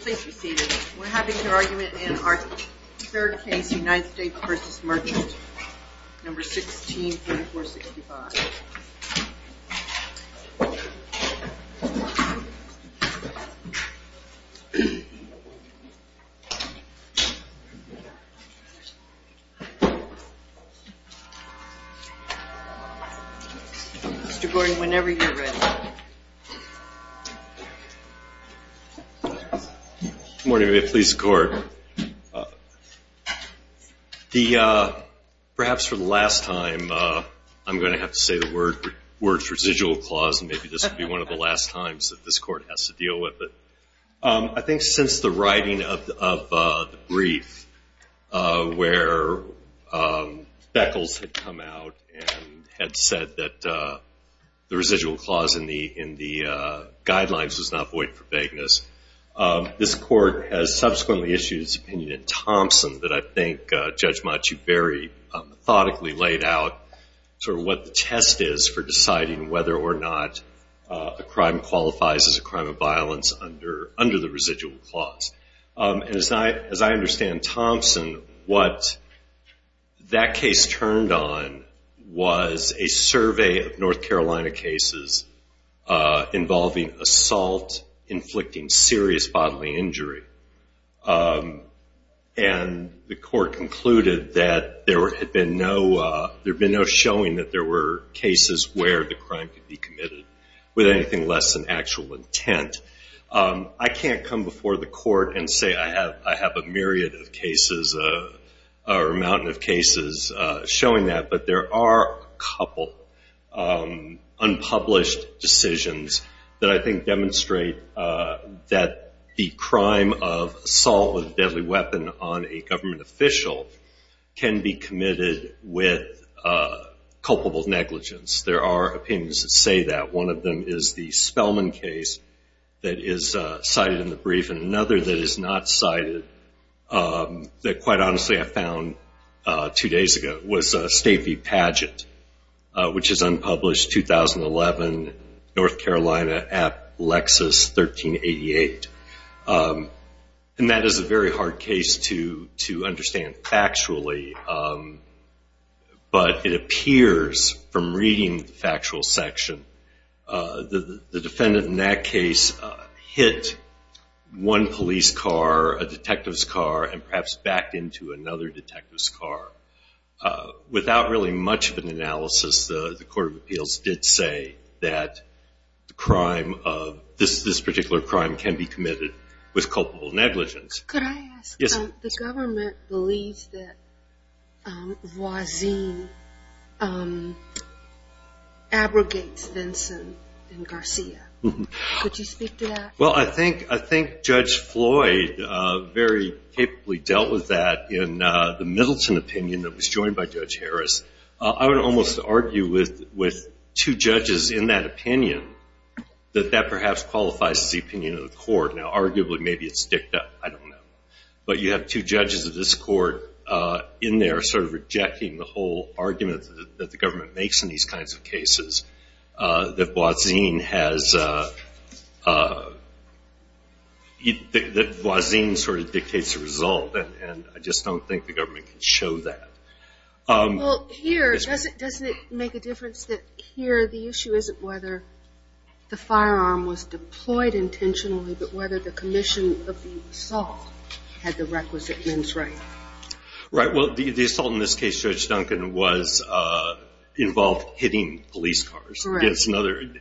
Please be seated. We're having an argument in our third case, United States v. Merchant, number 163465. Mr. Gordon, whenever you're ready. Good morning. May it please the Court. Perhaps for the last time, I'm going to have to say the words, residual clause, and maybe this will be one of the last times that this Court has to deal with. But I think since the writing of the brief where Beckles had come out and had said that the residual clause in the guidelines was not void for vagueness, this Court has subsequently issued its opinion in Thompson that I think Judge Machu Berry methodically laid out sort of what the test is for deciding whether or not a crime qualifies as a crime of violence under the residual clause. And as I understand, Thompson, what that case turned on was a survey of North Carolina cases involving assault inflicting serious bodily injury. And the Court concluded that there had been no showing that there were cases where the crime could be committed with anything less than actual intent. I can't come before the Court and say I have a myriad of cases or a mountain of cases showing that. But there are a couple unpublished decisions that I think demonstrate that the crime of assault with a deadly weapon on a government official can be committed with culpable negligence. There are opinions that say that. One of them is the Spellman case that is cited in the brief. And another that is not cited that, quite honestly, I found two days ago was State v. Padgett, which is unpublished, 2011, North Carolina at Lexis, 1388. And that is a very hard case to understand factually. But it appears from reading the factual section that the defendant in that case hit one police car, a detective's car, and perhaps backed into another detective's car. Without really much of an analysis, the Court of Appeals did say that this particular crime can be committed with culpable negligence. Could I ask, the government believes that Voisin abrogates Vinson and Garcia. Could you speak to that? Well, I think Judge Floyd very capably dealt with that in the Middleton opinion that was joined by Judge Harris. I would almost argue with two judges in that opinion that that perhaps qualifies as the opinion of the court. Now, arguably, maybe it's sticked up. I don't know. But you have two judges of this court in there sort of rejecting the whole argument that the government makes in these kinds of cases. That Voisin sort of dictates the result. And I just don't think the government can show that. Well, here, doesn't it make a difference that here the issue isn't whether the firearm was deployed intentionally, but whether the commission of the assault had the requisite men's right? Right. Well, the assault in this case, Judge Duncan, involved hitting police cars.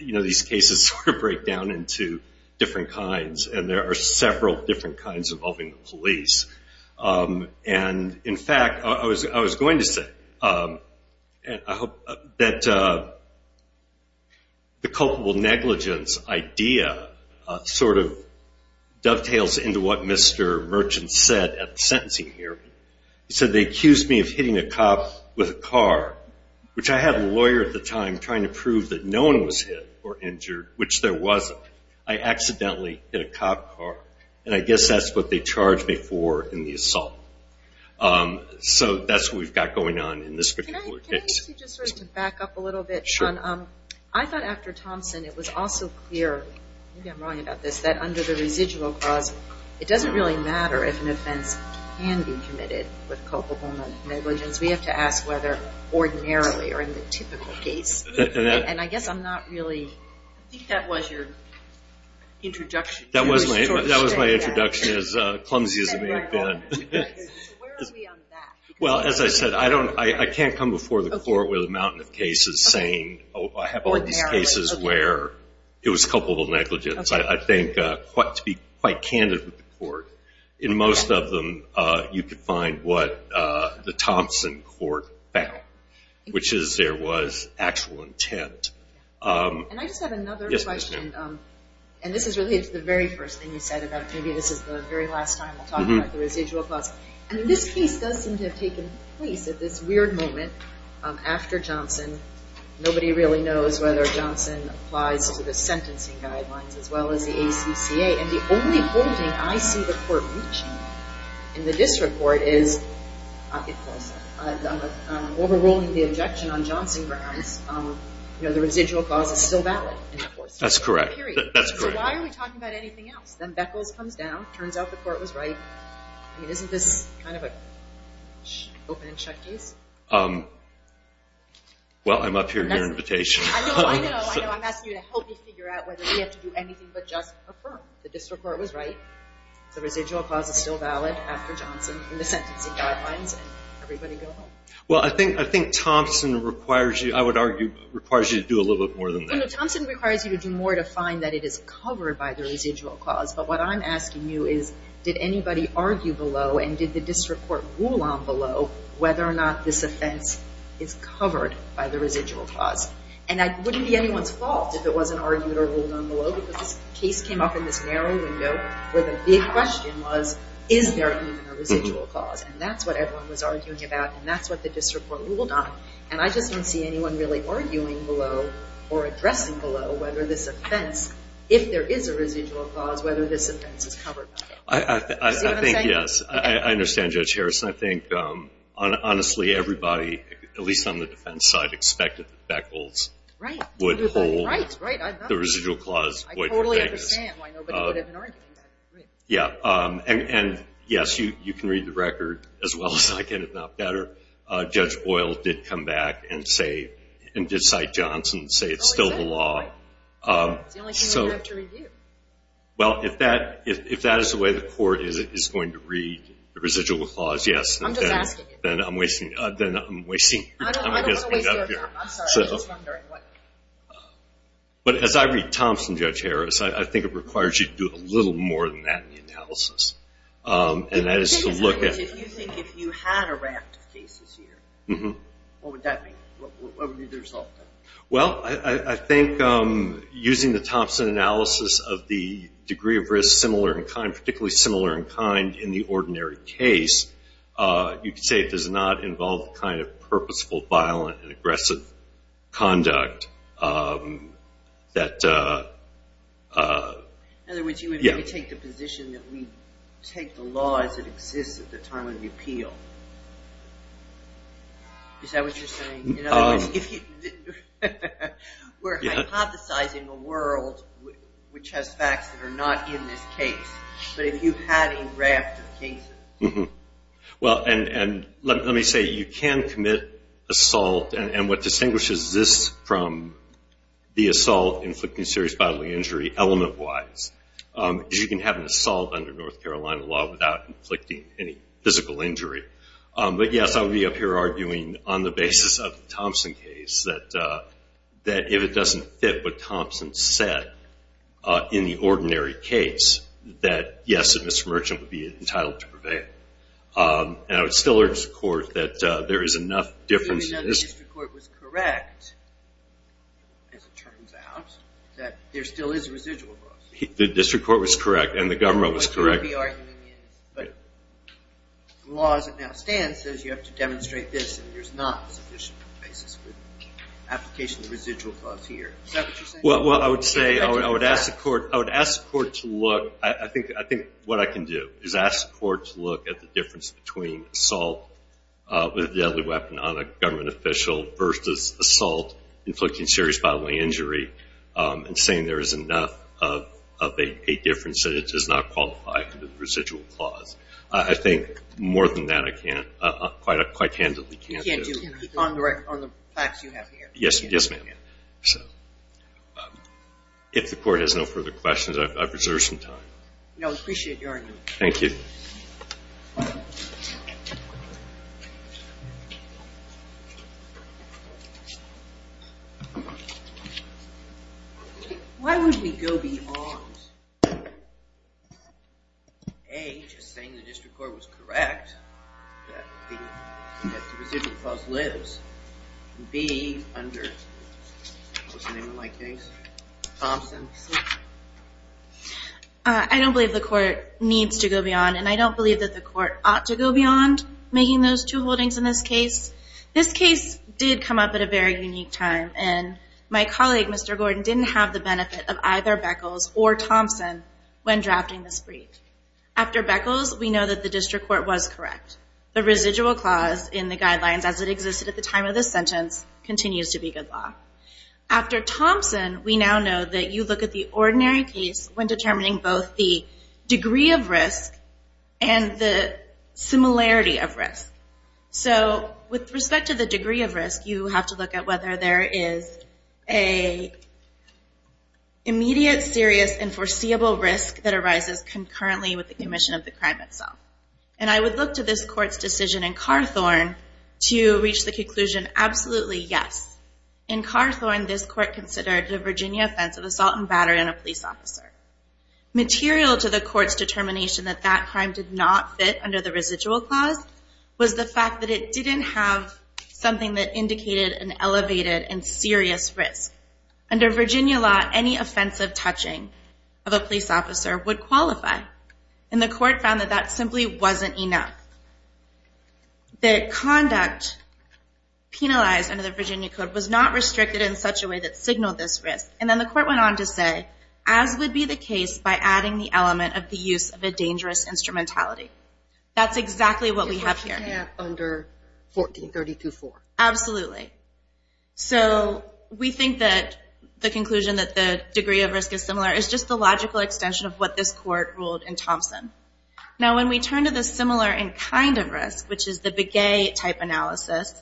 These cases sort of break down into different kinds, and there are several different kinds involving the police. And, in fact, I was going to say that the culpable negligence idea sort of dovetails into what Mr. Merchant said at the sentencing hearing. He said, they accused me of hitting a cop with a car, which I had a lawyer at the time trying to prove that no one was hit or injured, which there wasn't. I accidentally hit a cop car, and I guess that's what they charged me for in the assault. So that's what we've got going on in this particular case. Can I ask you just sort of to back up a little bit? Sure. I thought after Thompson it was also clear, maybe I'm wrong about this, that under the residual clause, it doesn't really matter if an offense can be committed with culpable negligence. We have to ask whether ordinarily or in the typical case. And I guess I'm not really – I think that was your introduction. That was my introduction, as clumsy as it may have been. So where are we on that? Well, as I said, I can't come before the court with a mountain of cases saying, I have all these cases where it was culpable negligence. I think to be quite candid with the court, in most of them you could find what the Thompson court found, which is there was actual intent. And I just have another question, and this is related to the very first thing you said about maybe this is the very last time we'll talk about the residual clause. I mean, this case does seem to have taken place at this weird moment after Johnson. Nobody really knows whether Johnson applies to the sentencing guidelines as well as the ACCA. And the only holding I see the court reaching in the district court is it falls out. Overruling the objection on Johnson grounds, you know, the residual clause is still valid. That's correct. Period. So why are we talking about anything else? Then Beckles comes down, turns out the court was right. I mean, isn't this kind of an open and shut case? Well, I'm up here at your invitation. I know, I know, I know. I'm asking you to help me figure out whether we have to do anything but just affirm. The district court was right. The residual clause is still valid after Johnson in the sentencing guidelines. Everybody go home. Well, I think Thompson requires you, I would argue, requires you to do a little bit more than that. Thompson requires you to do more to find that it is covered by the residual clause. But what I'm asking you is did anybody argue below and did the district court rule on below whether or not this offense is covered by the residual clause? And that wouldn't be anyone's fault if it wasn't argued or ruled on below, because this case came up in this narrow window where the big question was, is there even a residual clause? And that's what everyone was arguing about, and that's what the district court ruled on. And I just don't see anyone really arguing below or addressing below whether this offense, if there is a residual clause, whether this offense is covered by it. I think, yes. I understand, Judge Harrison. I think, honestly, everybody, at least on the defense side, expected that Beckles would hold the residual clause. I totally understand why nobody would have been arguing that. And, yes, you can read the record as well as I can, if not better. Judge Boyle did come back and say, and did cite Johnson and say it's still the law. It's the only thing we have to review. Well, if that is the way the court is going to read the residual clause, yes. I'm just asking. Then I'm wasting your time. I don't want to waste your time. I'm sorry. I'm just wondering what. But as I read Thompson, Judge Harris, I think it requires you to do a little more than that in the analysis. And that is to look at. If you think if you had a raft of cases here, what would that be? What would be the result? Well, I think using the Thompson analysis of the degree of risk, similar in kind, particularly similar in kind in the ordinary case, you could say it does not involve the kind of purposeful, violent, and aggressive conduct that. In other words, you would take the position that we take the law as it exists at the time of the appeal. Is that what you're saying? In other words, we're hypothesizing a world which has facts that are not in this case. But if you had a raft of cases. Well, and let me say, you can commit assault. And what distinguishes this from the assault inflicting serious bodily injury element-wise is you can have an assault under North Carolina law without inflicting any physical injury. But, yes, I would be up here arguing on the basis of the Thompson case that if it doesn't fit what Thompson said in the ordinary case, that, yes, a mismergent would be entitled to prevail. And I would still urge the Court that there is enough difference in this. Even though the district court was correct, as it turns out, that there still is residual loss. The district court was correct and the government was correct. But the law as it now stands says you have to demonstrate this and there's not sufficient basis for the application of the residual clause here. Is that what you're saying? Well, I would say I would ask the Court to look. I think what I can do is ask the Court to look at the difference between assault with a deadly weapon on a government official versus assault inflicting serious bodily injury and saying there is enough of a difference that it does not qualify for the residual clause. I think more than that I can't, quite candidly, can't do. You can't do it on the facts you have here. Yes, ma'am. If the Court has no further questions, I've reserved some time. No, I appreciate your argument. Thank you. Why would we go beyond A, just saying the district court was correct that the residual clause lives, and B, under what's the name of my case? Thompson. I don't believe the Court needs to go beyond and I don't believe that the Court ought to go beyond making those two holdings in this case. This case did come up at a very unique time and my colleague, Mr. Gordon, didn't have the benefit of either Beckles or Thompson when drafting this brief. After Beckles, we know that the district court was correct. The residual clause in the guidelines as it existed at the time of this sentence continues to be good law. After Thompson, we now know that you look at the ordinary case when determining both the degree of risk and the similarity of risk. With respect to the degree of risk, you have to look at whether there is an immediate, serious, and foreseeable risk that arises concurrently with the commission of the crime itself. I would look to this Court's decision in Carthorne to reach the conclusion, absolutely yes. In Carthorne, this Court considered the Virginia offense of assault and battery on a police officer. Material to the Court's determination that that crime did not fit under the residual clause was the fact that it didn't have something that indicated an elevated and serious risk. Under Virginia law, any offensive touching of a police officer would qualify. And the Court found that that simply wasn't enough. The conduct penalized under the Virginia Code was not restricted in such a way that signaled this risk. And then the Court went on to say, as would be the case by adding the element of the use of a dangerous instrumentality. That's exactly what we have here. It's what you have under 1432-4. Absolutely. So we think that the conclusion that the degree of risk is similar is just the logical extension of what this Court ruled in Thompson. Now when we turn to the similar in kind of risk, which is the Begay type analysis,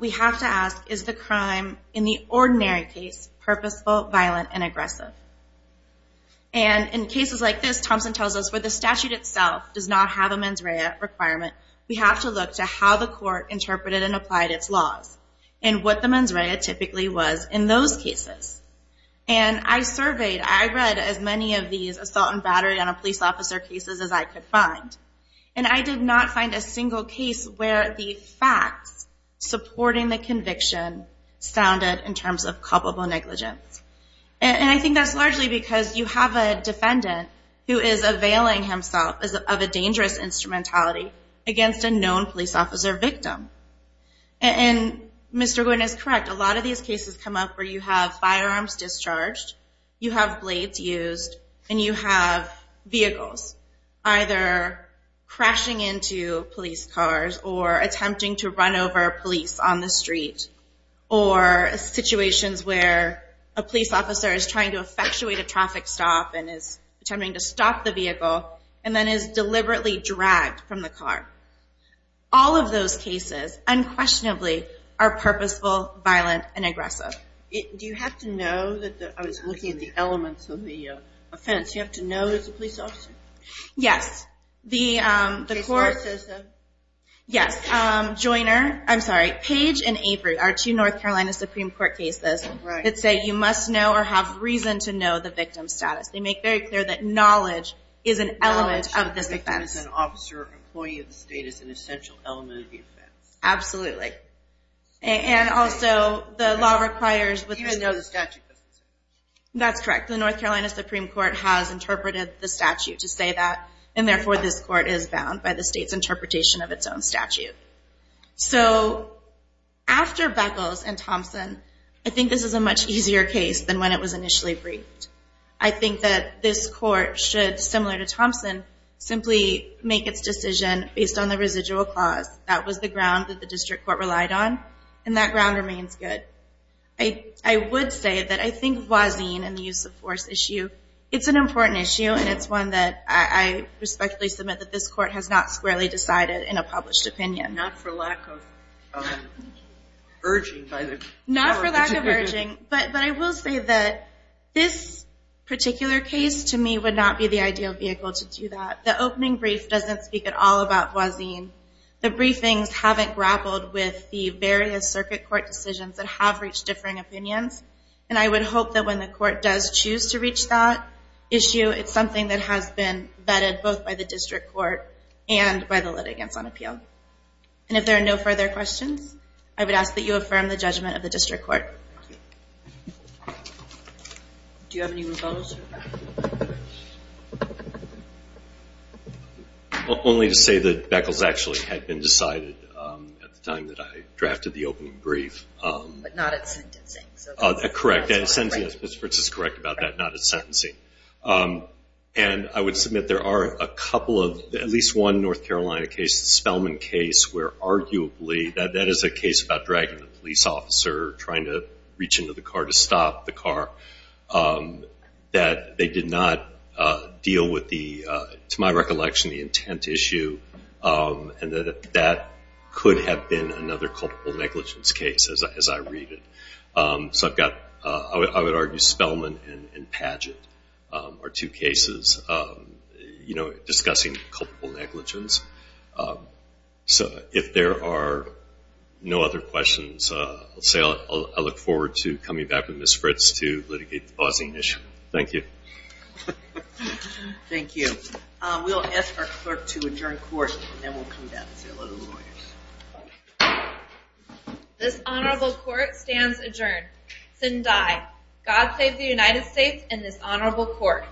we have to ask, is the crime in the ordinary case purposeful, violent, and aggressive? And in cases like this, Thompson tells us where the statute itself does not have a mens rea requirement, we have to look to how the Court interpreted and applied its laws. And what the mens rea typically was in those cases. And I surveyed, I read as many of these assault and battery on a police officer cases as I could find. And I did not find a single case where the facts supporting the conviction sounded in terms of culpable negligence. And I think that's largely because you have a defendant who is availing himself of a dangerous instrumentality against a known police officer victim. And Mr. Gould is correct, a lot of these cases come up where you have firearms discharged, you have blades used, and you have vehicles either crashing into police cars or attempting to run over police on the street, or situations where a police officer is trying to effectuate a traffic stop and is attempting to stop the vehicle, and then is deliberately dragged from the car. All of those cases, unquestionably, are purposeful, violent, and aggressive. Do you have to know, I was looking at the elements of the offense, do you have to know as a police officer? Yes, the court, yes, Joyner, I'm sorry, Page and Avery are two North Carolina Supreme Court cases that say you must know or have reason to know the victim's status. They make very clear that knowledge is an element of this offense. Knowledge as an officer or employee of the state is an essential element of the offense. Absolutely. And also, the law requires, Even though the statute doesn't say. That's correct. The North Carolina Supreme Court has interpreted the statute to say that, and therefore this court is bound by the state's interpretation of its own statute. So, after Beckles and Thompson, I think this is a much easier case than when it was initially briefed. I think that this court should, similar to Thompson, simply make its decision based on the residual clause. That was the ground that the district court relied on, and that ground remains good. I would say that I think Voisin and the use of force issue, it's an important issue, and it's one that I respectfully submit that this court has not squarely decided in a published opinion. Not for lack of urging. Not for lack of urging, but I will say that this particular case, to me, would not be the ideal vehicle to do that. The opening brief doesn't speak at all about Voisin. The briefings haven't grappled with the various circuit court decisions that have reached differing opinions, and I would hope that when the court does choose to reach that issue, it's something that has been vetted both by the district court and by the litigants on appeal. And if there are no further questions, I would ask that you affirm the judgment of the district court. Do you have any rebuttals? Only to say that Beckles actually had been decided at the time that I drafted the opening brief. But not at sentencing. Correct. Ms. Fritz is correct about that, not at sentencing. And I would submit there are a couple of, at least one North Carolina case, the Spellman case, where arguably that is a case about dragging the police officer, trying to reach into the car to stop the car. That they did not deal with the, to my recollection, the intent issue, and that that could have been another culpable negligence case as I read it. So I've got, I would argue Spellman and Padgett are two cases discussing culpable negligence. So if there are no other questions, I'll say I look forward to coming back with Ms. Fritz to litigate the pausing issue. Thank you. Thank you. We'll ask our clerk to adjourn court and then we'll come back and see a load of lawyers. This honorable court stands adjourned. Sin Dai. God save the United States and this honorable court.